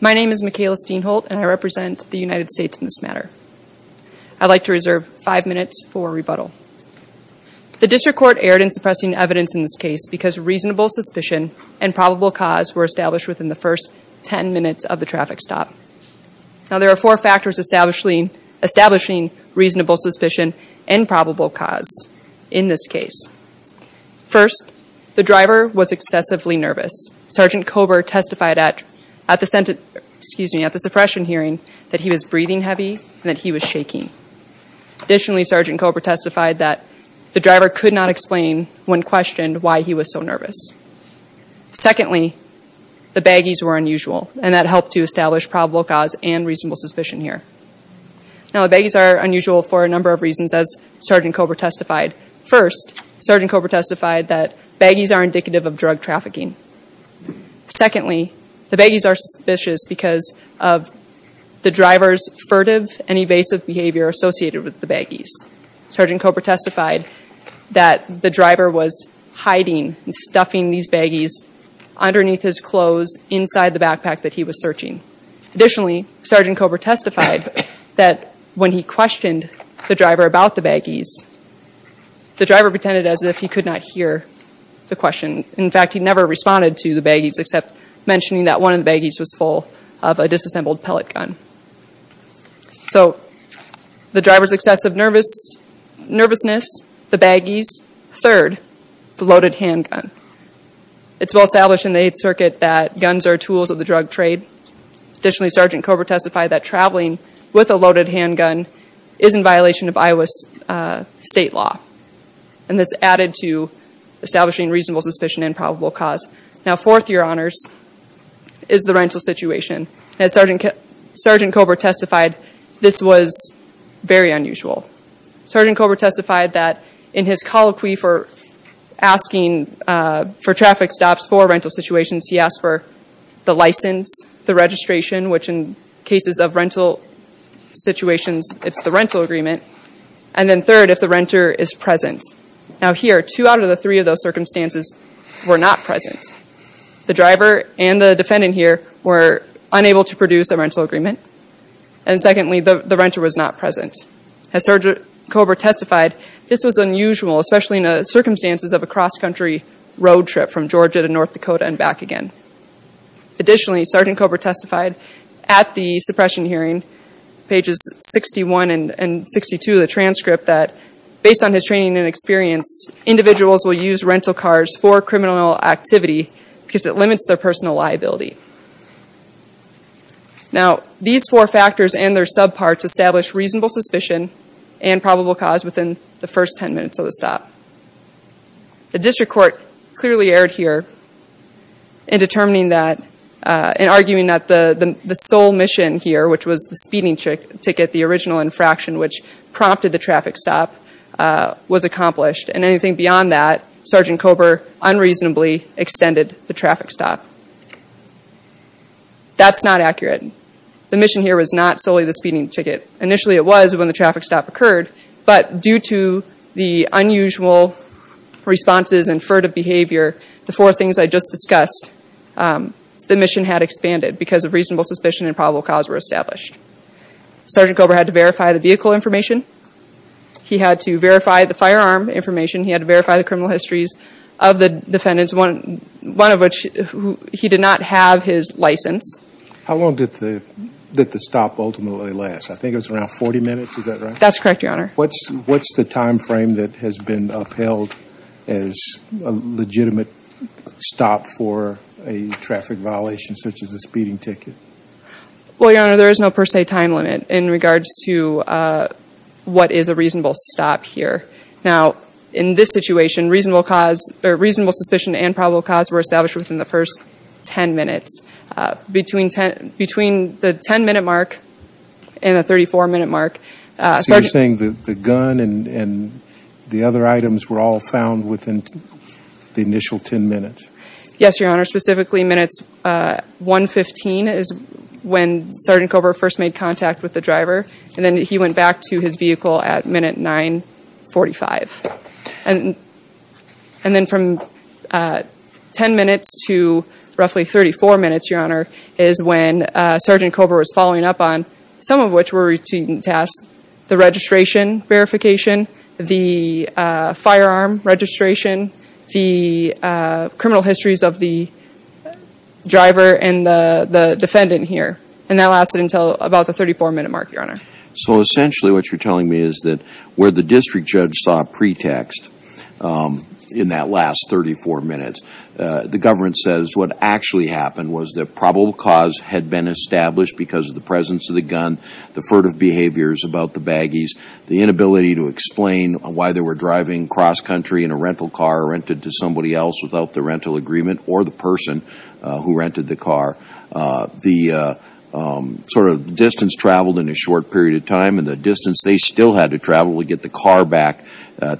My name is Michaela Steinholt and I represent the United States in this matter. I'd like to reserve five minutes for rebuttal. The District Court erred in suppressing evidence in this case because reasonable suspicion and probable cause were established within the first ten minutes of the traffic stop. Now there are four factors establishing reasonable suspicion and probable cause in this case. First, the driver was excessively nervous. Sgt. Kober testified at the suppression hearing that he was breathing heavy and that he was shaking. Additionally, Sgt. Kober testified that the driver could not explain when questioned why he was so nervous. Secondly, the baggies were unusual and that helped to establish probable cause and reasonable suspicion here. Now the baggies are unusual for a number of reasons as Sgt. Kober testified. First, Sgt. Kober testified that baggies are indicative of drug trafficking. Secondly, the baggies are suspicious because of the driver's furtive and evasive behavior associated with the baggies. Sgt. Kober testified that the driver was hiding and stuffing these baggies underneath his clothes inside the backpack that he was searching. Additionally, Sgt. Kober testified that when he questioned the driver about the baggies, the driver pretended as if he could not hear the question. In fact, he never responded to the baggies except mentioning that one of the baggies was full of a disassembled pellet gun. So the driver's excessive nervousness, the baggies, third, the loaded handgun. It's well established in the Eighth Circuit that guns are tools of the drug trade. Additionally, Sgt. Kober testified that traveling with a loaded handgun is in violation of Iowa's state law. And this added to establishing reasonable suspicion and probable cause. Now fourth, Your Honors, is the rental situation. As Sgt. Kober testified, this was very unusual. Sgt. Kober testified that in his colloquy for asking for traffic stops for rental situations, he asked for the license, the registration, which in cases of rental situations, it's the rental agreement. And then third, if the renter is present. Now here, two out of the three of those circumstances were not present. The driver and the defendant here were unable to produce a rental agreement. And secondly, the renter was not present. As Sgt. Kober testified, this was unusual, especially in the circumstances of a cross-country road trip from Georgia to North Dakota and back again. Additionally, Sgt. Kober testified at the suppression hearing, pages 61 and 62 of the transcript, that based on his training and experience, individuals will use rental cars for criminal activity because it limits their personal liability. Now, these four factors and their subparts establish reasonable suspicion and probable cause within the first ten minutes of the stop. The District Court clearly erred here in determining that, in arguing that the sole mission here, which was the speeding ticket, the original infraction which prompted the traffic stop, was accomplished. And anything beyond that, Sgt. Kober unreasonably extended the traffic stop. That's not accurate. The mission here was not solely the speeding ticket. Initially it was when the traffic stop occurred, but due to the unusual responses and furtive behavior, the four things I just discussed, the mission had expanded because of reasonable suspicion and probable cause were established. Sgt. Kober had to verify the vehicle information. He had to verify the firearm information. He had to verify the criminal histories of the defendants, one of which he did not have his license. How long did the stop ultimately last? I think it was around 40 minutes, is that right? That's correct, Your Honor. What's the time frame that has been upheld as a legitimate stop for a traffic violation such as a speeding ticket? Well, Your Honor, there is no per se time limit in regards to what is a reasonable stop here. Now, in this situation, reasonable suspicion and probable cause were established within the first 10 minutes. Between the 10-minute mark and the 34-minute mark, Sgt. So you're saying the gun and the other items were all found within the initial 10 minutes? Yes, Your Honor. Specifically, minutes 115 is when Sgt. Kober first made contact with the driver, and then he went back to his vehicle at minute 945. And then from 10 minutes to roughly 34 minutes, Your Honor, is when Sgt. Kober was following up on some of which were routine tasks, the registration verification, the firearm registration, the criminal histories of the driver and the defendant here. And that lasted until about the 34-minute mark, Your Honor. So essentially what you're telling me is that where the district judge saw a pretext in that last 34 minutes, the government says what actually happened was that probable cause had been established because of the presence of the gun, the furtive behaviors about the baggies, the inability to explain why they were driving cross-country in a rental car rented to somebody else without the rental agreement or the person who rented the car, the sort of distance traveled in a short period of time, and the distance they still had to travel to get the car back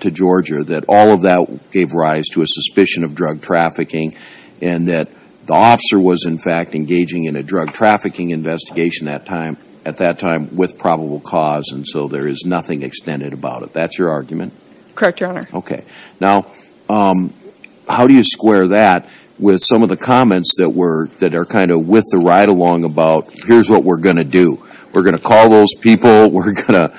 to Georgia, that all of that gave rise to a suspicion of drug trafficking, and that the officer was, in fact, engaging in a drug trafficking investigation at that time with probable cause, and so there is nothing extended about it. That's your argument? Correct, Your Honor. Okay. Now, how do you square that with some of the comments that are kind of with the ride-along about here's what we're going to do. We're going to call those people. We're going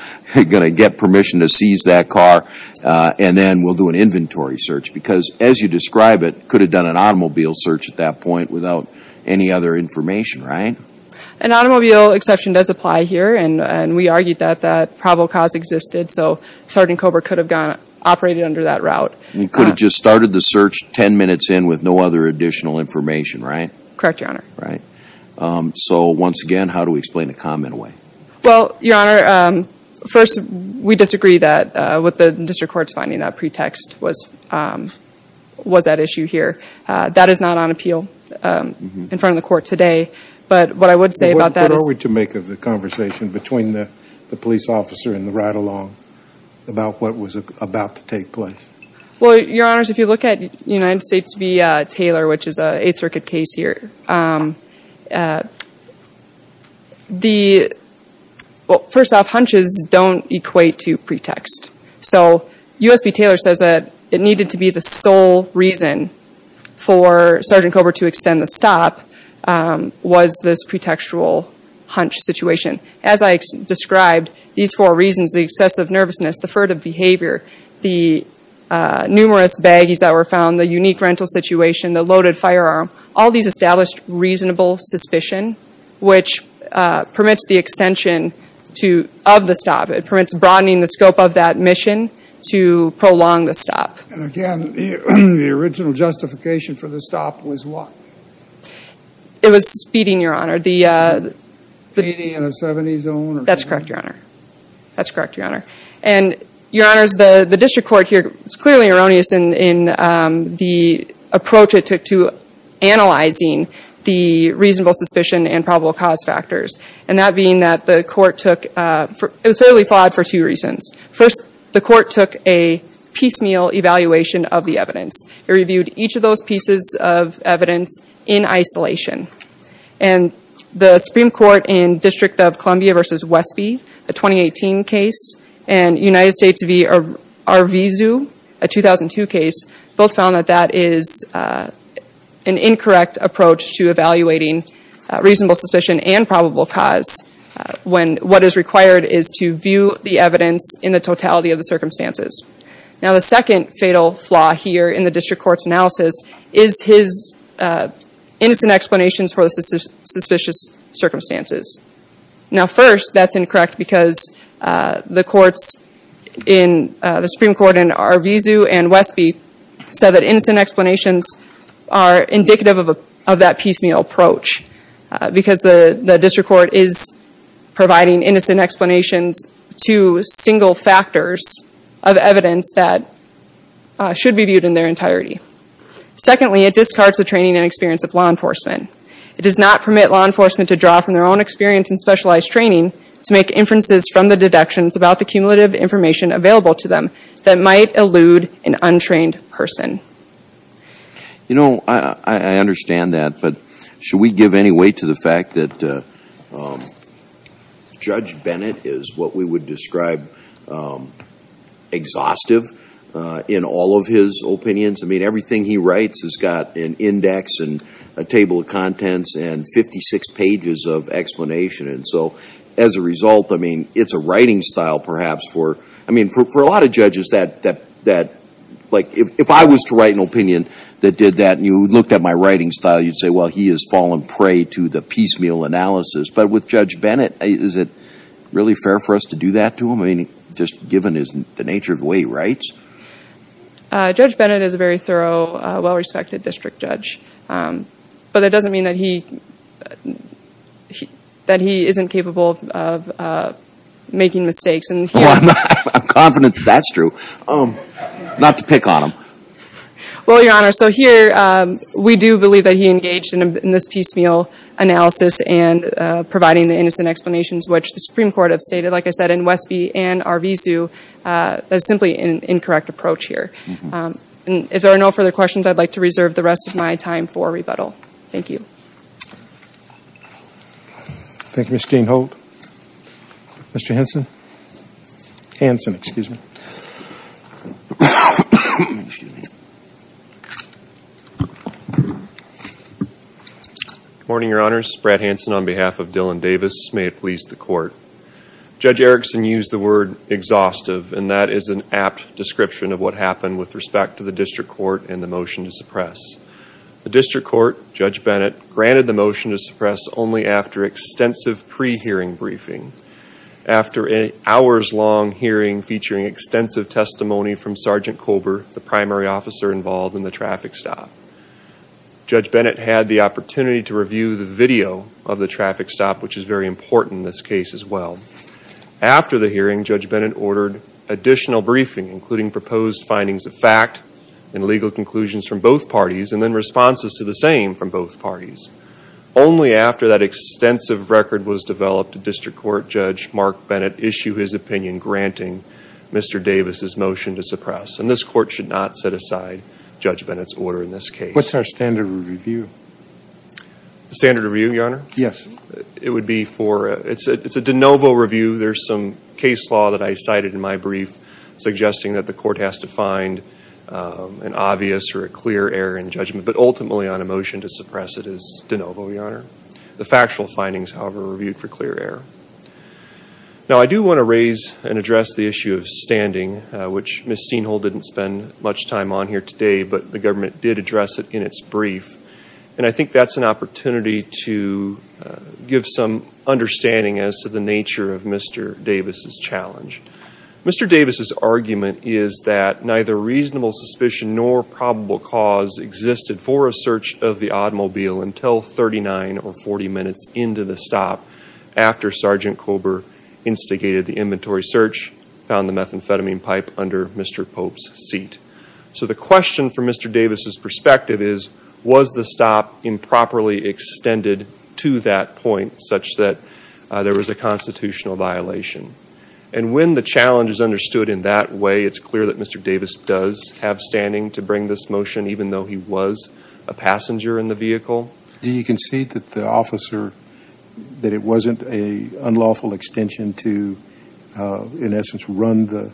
to get permission to seize that car, and then we'll do an inventory search because, as you describe it, could have done an automobile search at that point without any other information, right? An automobile exception does apply here, and we argued that that probable cause existed, so Sergeant Cobra could have operated under that route. He could have just started the search 10 minutes in with no other additional information, right? Correct, Your Honor. Right. So, once again, how do we explain a comment away? Well, Your Honor, first, we disagree with the district court's finding that pretext was at issue here. That is not on appeal in front of the court today, but what I would say about that is— What are we to make of the conversation between the police officer and the ride-along about what was about to take place? Well, Your Honors, if you look at United States v. Taylor, which is an Eighth Circuit case here, well, first off, hunches don't equate to pretext. So, U.S. v. Taylor says that it needed to be the sole reason for Sergeant Cobra to extend the stop was this pretextual hunch situation. As I described, these four reasons—the excessive nervousness, the furtive behavior, the numerous baggies that were found, the unique rental situation, the loaded firearm— all these established reasonable suspicion, which permits the extension of the stop. It permits broadening the scope of that mission to prolong the stop. And again, the original justification for the stop was what? It was speeding, Your Honor. Speeding in a 70-zone? That's correct, Your Honor. That's correct, Your Honor. And, Your Honors, the district court here is clearly erroneous in the approach it took to analyzing the reasonable suspicion and probable cause factors. And that being that the court took—it was fairly flawed for two reasons. First, the court took a piecemeal evaluation of the evidence. It reviewed each of those pieces of evidence in isolation. And the Supreme Court in District of Columbia v. Westby, a 2018 case, and United States v. Arvizu, a 2002 case, both found that that is an incorrect approach to evaluating reasonable suspicion and probable cause when what is required is to view the evidence in the totality of the circumstances. Now, the second fatal flaw here in the district court's analysis is his innocent explanations for the suspicious circumstances. Now, first, that's incorrect because the Supreme Court in Arvizu and Westby said that innocent explanations are indicative of that piecemeal approach because the district court is providing innocent explanations to single factors of evidence that should be viewed in their entirety. Secondly, it discards the training and experience of law enforcement. It does not permit law enforcement to draw from their own experience and specialized training to make inferences from the deductions about the cumulative information available to them that might elude an untrained person. You know, I understand that, but should we give any weight to the fact that Judge Bennett is what we would describe exhaustive in all of his opinions? I mean, everything he writes has got an index and a table of contents and 56 pages of explanation. And so, as a result, I mean, it's a writing style perhaps for, I mean, for a lot of judges that, like, if I was to write an opinion that did that and you looked at my writing style, you'd say, well, he has fallen prey to the piecemeal analysis. But with Judge Bennett, is it really fair for us to do that to him? I mean, just given the nature of the way he writes? Judge Bennett is a very thorough, well-respected district judge. But that doesn't mean that he isn't capable of making mistakes. I'm confident that that's true. Not to pick on him. Well, Your Honor, so here we do believe that he engaged in this piecemeal analysis and providing the innocent explanations which the Supreme Court have stated, like I said, in Westby and Arvizu as simply an incorrect approach here. If there are no further questions, I'd like to reserve the rest of my time for rebuttal. Thank you. Thank you, Ms. Steinholt. Mr. Hansen? Hansen, excuse me. Good morning, Your Honors. Brad Hansen on behalf of Dylan Davis. May it please the Court. Judge Erickson used the word exhaustive, and that is an apt description of what happened with respect to the district court and the motion to suppress. The district court, Judge Bennett, granted the motion to suppress only after extensive pre-hearing briefing, after an hours-long hearing featuring extensive testimony from Sergeant Colber, the primary officer involved in the traffic stop. Judge Bennett had the opportunity to review the video of the traffic stop, which is very important in this case as well. After the hearing, Judge Bennett ordered additional briefing, including proposed findings of fact and legal conclusions from both parties, and then responses to the same from both parties. Only after that extensive record was developed, did District Court Judge Mark Bennett issue his opinion, granting Mr. Davis' motion to suppress. And this Court should not set aside Judge Bennett's order in this case. What's our standard of review? The standard of review, Your Honor? Yes. It would be for, it's a de novo review. There's some case law that I cited in my brief, suggesting that the Court has to find an obvious or a clear error in judgment, but ultimately on a motion to suppress it is de novo, Your Honor. The factual findings, however, are reviewed for clear error. Now I do want to raise and address the issue of standing, which Ms. Steenhol didn't spend much time on here today, but the government did address it in its brief. And I think that's an opportunity to give some understanding as to the nature of Mr. Davis' challenge. Mr. Davis' argument is that neither reasonable suspicion nor probable cause existed for a search of the automobile until 39 or 40 minutes into the stop after Sergeant Kober instigated the inventory search, found the methamphetamine pipe under Mr. Pope's seat. So the question from Mr. Davis' perspective is, was the stop improperly extended to that point such that there was a constitutional violation? And when the challenge is understood in that way, it's clear that Mr. Davis does have standing to bring this motion, even though he was a passenger in the vehicle. Do you concede that the officer, that it wasn't an unlawful extension to, in essence, run the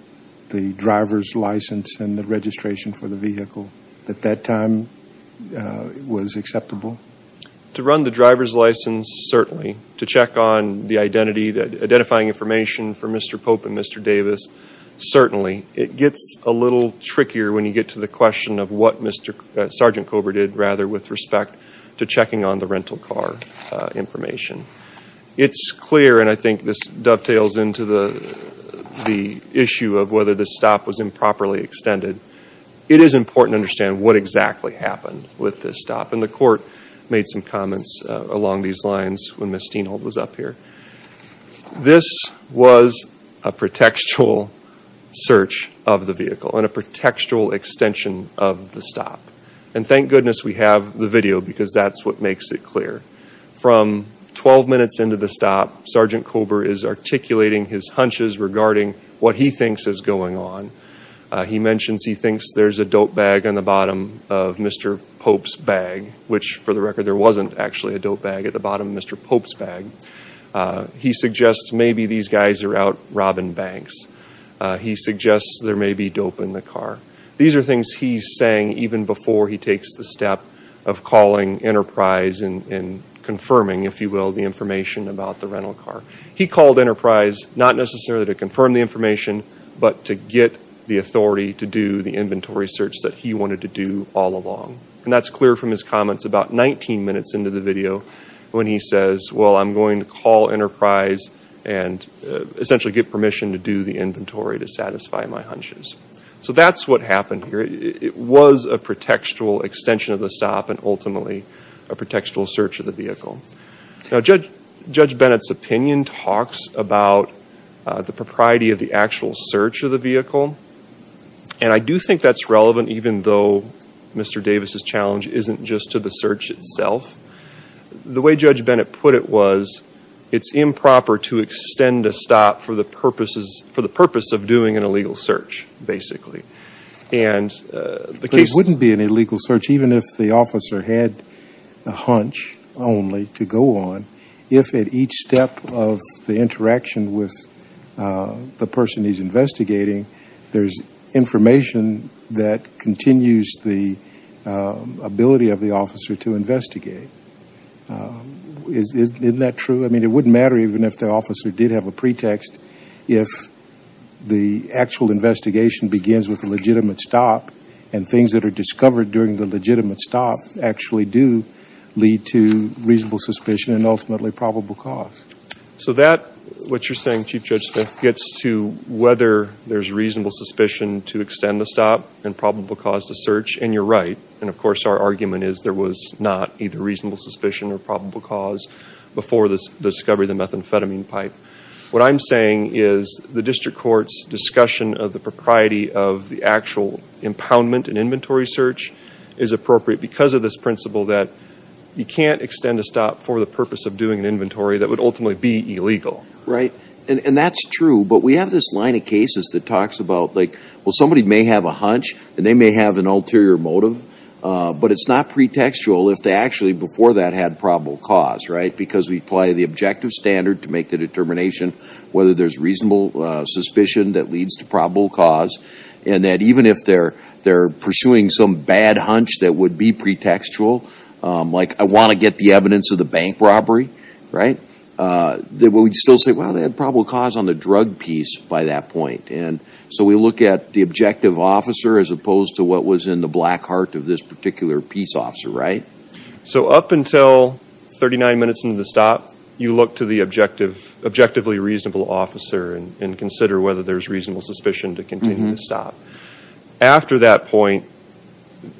driver's license and the registration for the vehicle at that time was acceptable? To run the driver's license, certainly. To check on the identity, identifying information for Mr. Pope and Mr. Davis, certainly. It gets a little trickier when you get to the question of what Sergeant Kober did, rather, with respect to checking on the rental car information. It's clear, and I think this dovetails into the issue of whether the stop was improperly extended, it is important to understand what exactly happened with this stop. And the court made some comments along these lines when Ms. Steinholt was up here. This was a pretextual search of the vehicle and a pretextual extension of the stop. And thank goodness we have the video, because that's what makes it clear. From 12 minutes into the stop, Sergeant Kober is articulating his hunches regarding what he thinks is going on. He mentions he thinks there's a dope bag on the bottom of Mr. Pope's bag, which, for the record, there wasn't actually a dope bag at the bottom of Mr. Pope's bag. He suggests maybe these guys are out robbing banks. He suggests there may be dope in the car. These are things he's saying even before he takes the step of calling Enterprise and confirming, if you will, the information about the rental car. He called Enterprise, not necessarily to confirm the information, but to get the authority to do the inventory search that he wanted to do all along. And that's clear from his comments about 19 minutes into the video when he says, well, I'm going to call Enterprise and essentially get permission to do the inventory to satisfy my hunches. So that's what happened here. It was a pretextual extension of the stop and ultimately a pretextual search of the vehicle. Now, Judge Bennett's opinion talks about the propriety of the actual search of the vehicle, and I do think that's relevant even though Mr. Davis' challenge isn't just to the search itself. The way Judge Bennett put it was it's improper to extend a stop for the purpose of doing an illegal search, basically. And the case... It wouldn't be an illegal search even if the officer had a hunch only to go on if at each step of the interaction with the person he's investigating there's information that continues the ability of the officer to investigate. Isn't that true? I mean, it wouldn't matter even if the officer did have a pretext if the actual investigation begins with a legitimate stop and things that are discovered during the legitimate stop actually do lead to reasonable suspicion and ultimately probable cause. So that, what you're saying, Chief Judge Smith, gets to whether there's reasonable suspicion to extend the stop and probable cause to search, and you're right. And of course our argument is there was not either reasonable suspicion or probable cause before the discovery of the methamphetamine pipe. What I'm saying is the district court's discussion of the propriety of the actual impoundment and inventory search is appropriate because of this principle that you can't extend a stop for the purpose of doing an inventory that would ultimately be illegal. Right. And that's true. But we have this line of cases that talks about, like, well, somebody may have a hunch and they may have an ulterior motive, but it's not pretextual if they actually before that had probable cause, right, because we apply the objective standard to make the determination whether there's reasonable suspicion that leads to probable cause and that even if they're pursuing some bad hunch that would be pretextual, like I want to get the evidence of the bank robbery, right, we'd still say, well, they had probable cause on the drug piece by that point. And so we look at the objective officer as opposed to what was in the black heart of this particular peace officer, right? So up until 39 minutes into the stop, you look to the objectively reasonable officer and consider whether there's reasonable suspicion to continue to stop. After that point,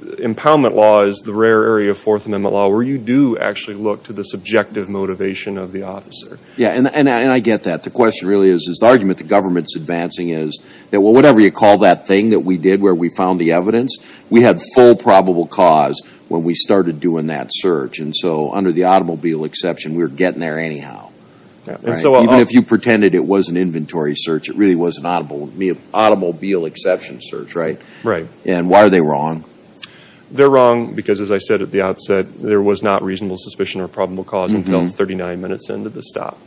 impoundment law is the rare area of Fourth Amendment law where you do actually look to the subjective motivation of the officer. Yeah, and I get that. The question really is, the argument the government's advancing is that whatever you call that thing that we did where we found the evidence, we had full probable cause when we started doing that search. And so under the automobile exception, we were getting there anyhow, right? Even if you pretended it was an inventory search, it really was an automobile exception search, right? Right. And why are they wrong? They're wrong because, as I said at the outset, there was not reasonable suspicion or probable cause until 39 minutes into the stop.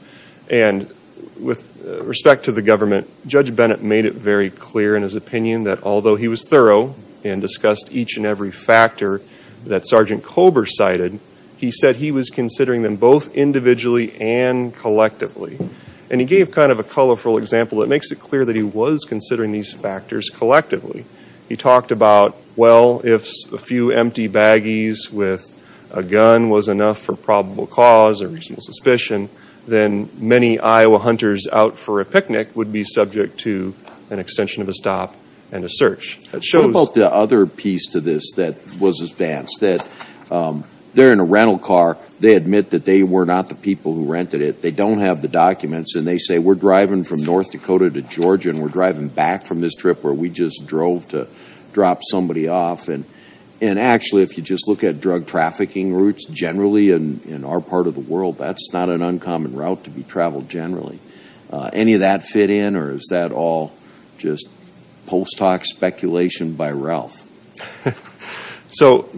And with respect to the government, Judge Bennett made it very clear in his opinion that although he was thorough and discussed each and every factor that Sergeant Colber cited, he said he was considering them both individually and collectively. And he gave kind of a colorful example that makes it clear that he was considering these factors collectively. He talked about, well, if a few empty baggies with a gun was enough for probable cause or reasonable suspicion, then many Iowa hunters out for a picnic would be subject to an extension of a stop and a search. What about the other piece to this that was advanced? They're in a rental car. They admit that they were not the people who rented it. They don't have the documents, and they say, we're driving from North Dakota to Georgia, and we're driving back from this trip where we just drove to drop somebody off. And actually, if you just look at drug trafficking routes generally in our part of the world, that's not an uncommon route to be traveled generally. Any of that fit in, or is that all just post hoc speculation by Ralph? So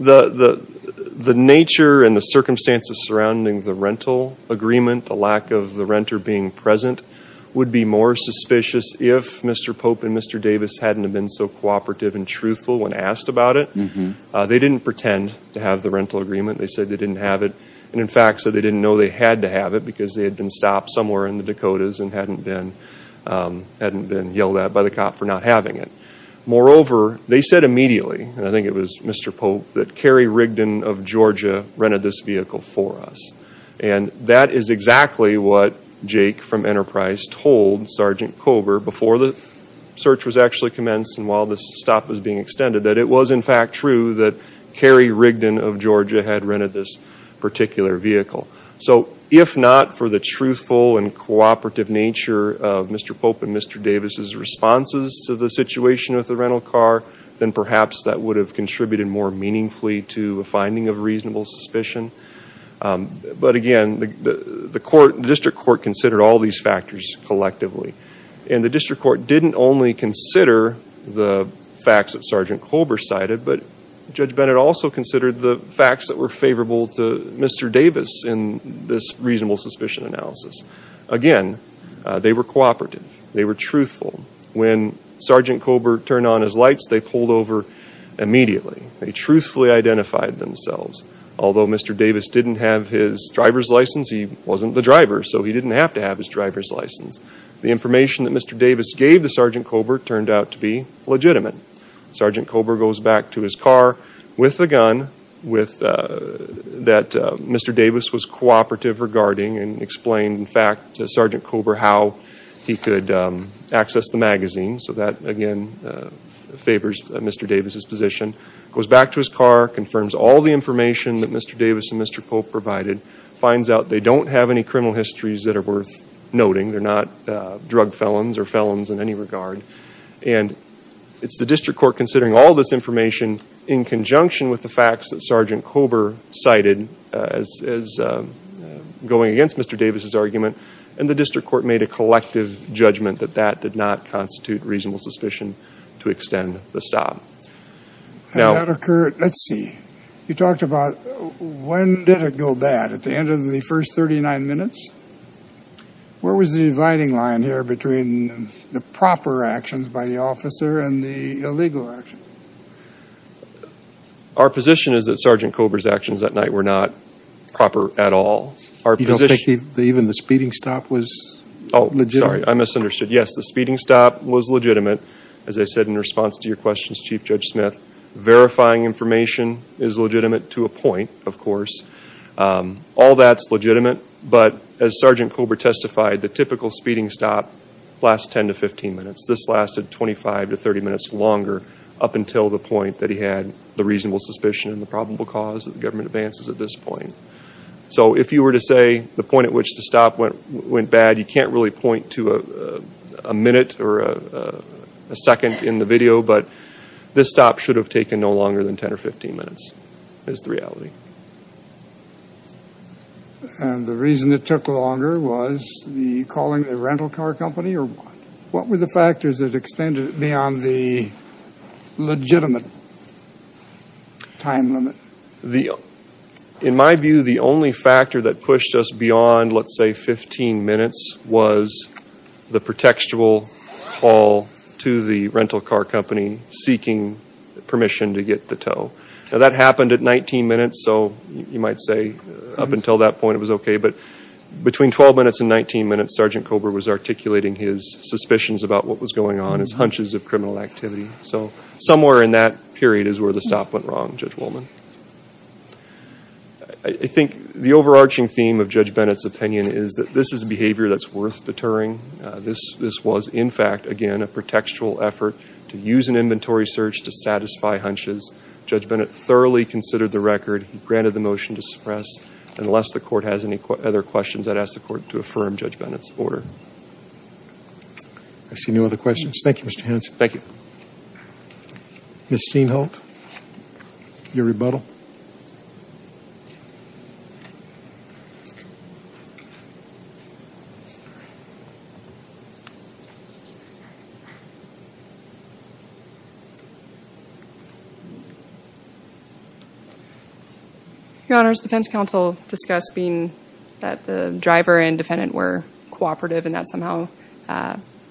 the nature and the circumstances surrounding the rental agreement, the lack of the renter being present, would be more suspicious if Mr. Pope and Mr. Davis hadn't been so cooperative and truthful when asked about it. They didn't pretend to have the rental agreement. They said they didn't have it. And, in fact, so they didn't know they had to have it because they had been stopped somewhere in the Dakotas and hadn't been yelled at by the cop for not having it. Moreover, they said immediately, and I think it was Mr. Pope, that Carrie Rigdon of Georgia rented this vehicle for us. And that is exactly what Jake from Enterprise told Sergeant Kober before the search was actually commenced and while this stop was being extended, that it was, in fact, true that Carrie Rigdon of Georgia had rented this particular vehicle. So if not for the truthful and cooperative nature of Mr. Pope and Mr. Davis' responses to the situation with the rental car, then perhaps that would have contributed more meaningfully to a finding of reasonable suspicion. But, again, the district court considered all these factors collectively. And the district court didn't only consider the facts that Sergeant Kober cited, but Judge Bennett also considered the facts that were favorable to Mr. Davis in this reasonable suspicion analysis. Again, they were cooperative. They were truthful. When Sergeant Kober turned on his lights, they pulled over immediately. They truthfully identified themselves. Although Mr. Davis didn't have his driver's license, he wasn't the driver, so he didn't have to have his driver's license. The information that Mr. Davis gave to Sergeant Kober turned out to be legitimate. Sergeant Kober goes back to his car with the gun that Mr. Davis was cooperative regarding and explained, in fact, to Sergeant Kober how he could access the magazine. So that, again, favors Mr. Davis' position. He goes back to his car, confirms all the information that Mr. Davis and Mr. Pope provided, finds out they don't have any criminal histories that are worth noting. They're not drug felons or felons in any regard, and it's the district court considering all this information in conjunction with the facts that Sergeant Kober cited as going against Mr. Davis' argument, and the district court made a collective judgment that that did not constitute reasonable suspicion to extend the stop. Now, let's see. You talked about when did it go bad? At the end of the first 39 minutes? Where was the dividing line here between the proper actions by the officer and the illegal action? Our position is that Sergeant Kober's actions that night were not proper at all. You don't think even the speeding stop was legitimate? Oh, sorry, I misunderstood. Yes, the speeding stop was legitimate. As I said in response to your questions, Chief Judge Smith, verifying information is legitimate to a point, of course. All that's legitimate, but as Sergeant Kober testified, the typical speeding stop lasts 10 to 15 minutes. This lasted 25 to 30 minutes longer, up until the point that he had the reasonable suspicion and the probable cause that the government advances at this point. So if you were to say the point at which the stop went bad, you can't really point to a minute or a second in the video, but this stop should have taken no longer than 10 or 15 minutes is the reality. And the reason it took longer was the calling the rental car company or what? What were the factors that extended beyond the legitimate time limit? In my view, the only factor that pushed us beyond, let's say, 15 minutes was the pretextual call to the rental car company seeking permission to get the tow. Now, that happened at 19 minutes, so you might say up until that point it was okay, but between 12 minutes and 19 minutes, Sergeant Kober was articulating his suspicions about what was going on, his hunches of criminal activity. So somewhere in that period is where the stop went wrong, Judge Woolman. I think the overarching theme of Judge Bennett's opinion is that this is behavior that's worth deterring. This was, in fact, again, a pretextual effort to use an inventory search to satisfy hunches. Judge Bennett thoroughly considered the record. He granted the motion to suppress. Unless the Court has any other questions, I'd ask the Court to affirm Judge Bennett's order. I see no other questions. Thank you, Mr. Hanson. Thank you. Ms. Steinholt, your rebuttal. Your Honor, as the defense counsel discussed, being that the driver and defendant were cooperative and that somehow,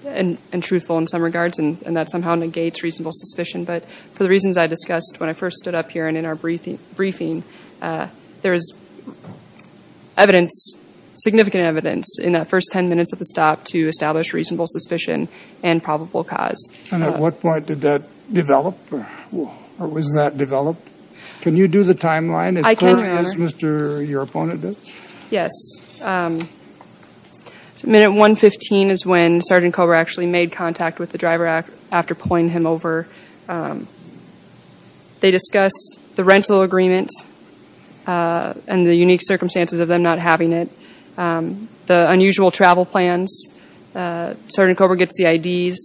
and truthful in some regards, and that somehow negates reasonable suspicion, but for the reasons I discussed when I first stood up here were cooperative and that somehow, and truthful in some regards, in that first 10 minutes of the stop to establish reasonable suspicion and probable cause. And at what point did that develop, or was that developed? Can you do the timeline as clearly as your opponent did? Yes. Minute 115 is when Sergeant Cobra actually made contact with the driver after pulling him over. They discuss the rental agreement and the unique circumstances of them not having it. The unusual travel plans. Sergeant Cobra gets the IDs,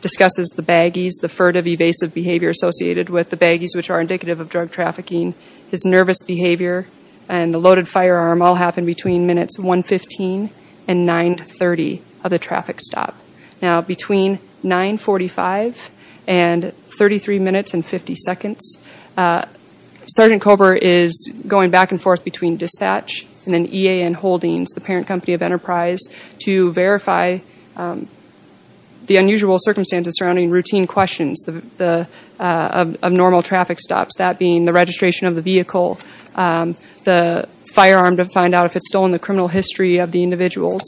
discusses the baggies, the furtive, evasive behavior associated with the baggies, which are indicative of drug trafficking. His nervous behavior and the loaded firearm all happened between minutes 115 and 930 of the traffic stop. Now, between 945 and 33 minutes and 50 seconds, Sergeant Cobra is going back and forth between dispatch and then EAN Holdings, the parent company of Enterprise, to verify the unusual circumstances surrounding routine questions of normal traffic stops, that being the registration of the vehicle, the firearm to find out if it's stolen, the criminal history of the individuals.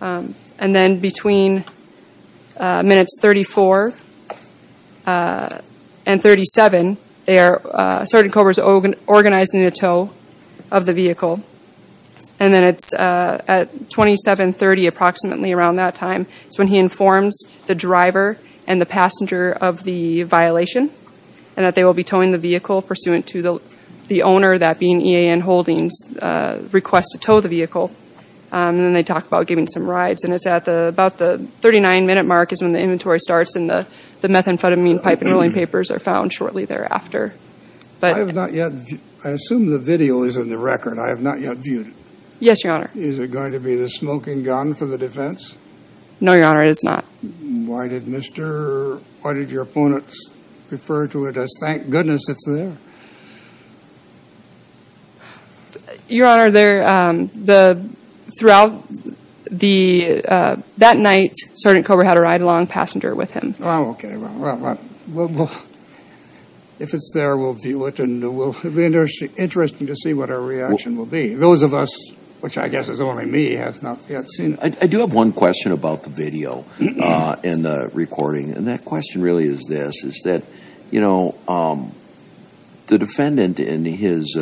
And then between minutes 34 and 37, Sergeant Cobra is organizing the tow of the vehicle. And then it's at 2730 approximately, around that time, is when he informs the driver and the passenger of the violation and that they will be towing the vehicle pursuant to the owner, that being EAN Holdings, request to tow the vehicle. And then they talk about giving some rides. And it's at about the 39-minute mark is when the inventory starts and the methamphetamine pipe and rolling papers are found shortly thereafter. I assume the video is in the record. I have not yet viewed it. Yes, Your Honor. Is it going to be the smoking gun for the defense? No, Your Honor, it is not. Why did your opponents refer to it as, thank goodness it's there? Your Honor, that night, Sergeant Cobra had a ride-along passenger with him. Oh, okay. If it's there, we'll view it. It will be interesting to see what our reaction will be. Those of us, which I guess is only me, have not yet seen it. I do have one question about the video and the recording. And that question really is this, is that the defendant in his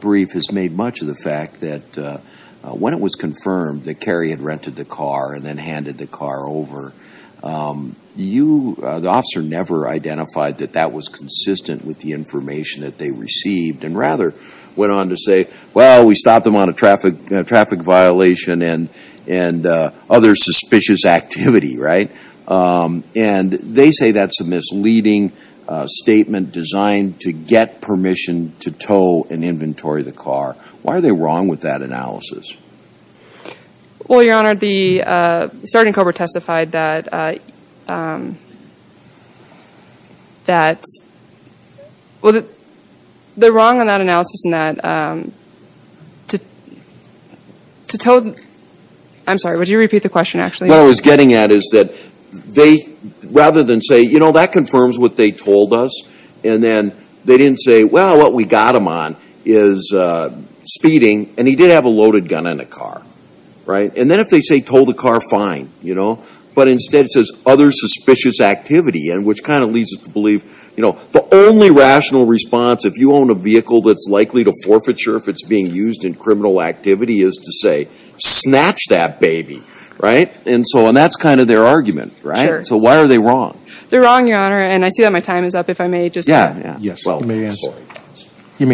brief has made much of the fact that when it was confirmed that Cary had rented the car and then handed the car over, the officer never identified that that was consistent with the information that they received and rather went on to say, well, we stopped him on a traffic violation and other suspicious activity, right? And they say that's a misleading statement designed to get permission to tow and inventory the car. Why are they wrong with that analysis? Well, Your Honor, the Sergeant Cobra testified that, they're wrong on that analysis and that to tow, I'm sorry, would you repeat the question, actually? What I was getting at is that they, rather than say, you know, that confirms what they told us, and then they didn't say, well, what we got him on is speeding, and he did have a loaded gun in the car, right? And then if they say tow the car, fine, you know, but instead it says other suspicious activity, which kind of leads us to believe, you know, the only rational response if you own a vehicle that's likely to forfeiture if it's being used in criminal activity is to say snatch that baby, right? And so that's kind of their argument, right? Sure. So why are they wrong? They're wrong, Your Honor, and I see that my time is up. Yes, you may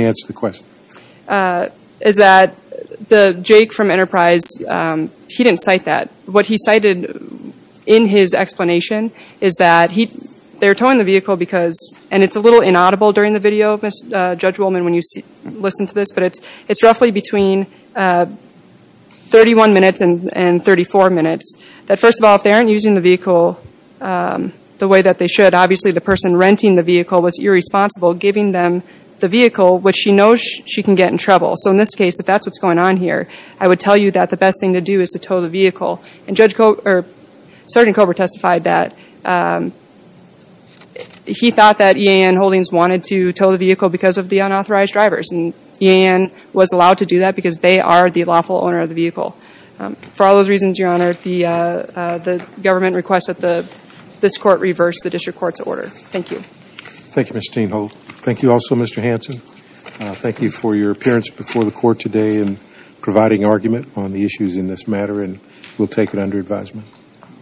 answer the question. Is that the Jake from Enterprise, he didn't cite that. What he cited in his explanation is that they're towing the vehicle because, and it's a little inaudible during the video, Judge Woolman, when you listen to this, but it's roughly between 31 minutes and 34 minutes, that first of all, if they aren't using the vehicle the way that they should, obviously the person renting the vehicle was irresponsible, giving them the vehicle, which she knows she can get in trouble. So in this case, if that's what's going on here, I would tell you that the best thing to do is to tow the vehicle. And Judge Cobra, or Sergeant Cobra testified that he thought that EAN Holdings wanted to tow the vehicle because of the unauthorized drivers, and EAN was allowed to do that because they are the lawful owner of the vehicle. For all those reasons, Your Honor, the government requests that this court reverse the district court's order. Thank you. Thank you, Mr. Tienhold. Thank you also, Mr. Hanson. Thank you for your appearance before the court today and providing argument on the issues in this matter, and we'll take it under advisement.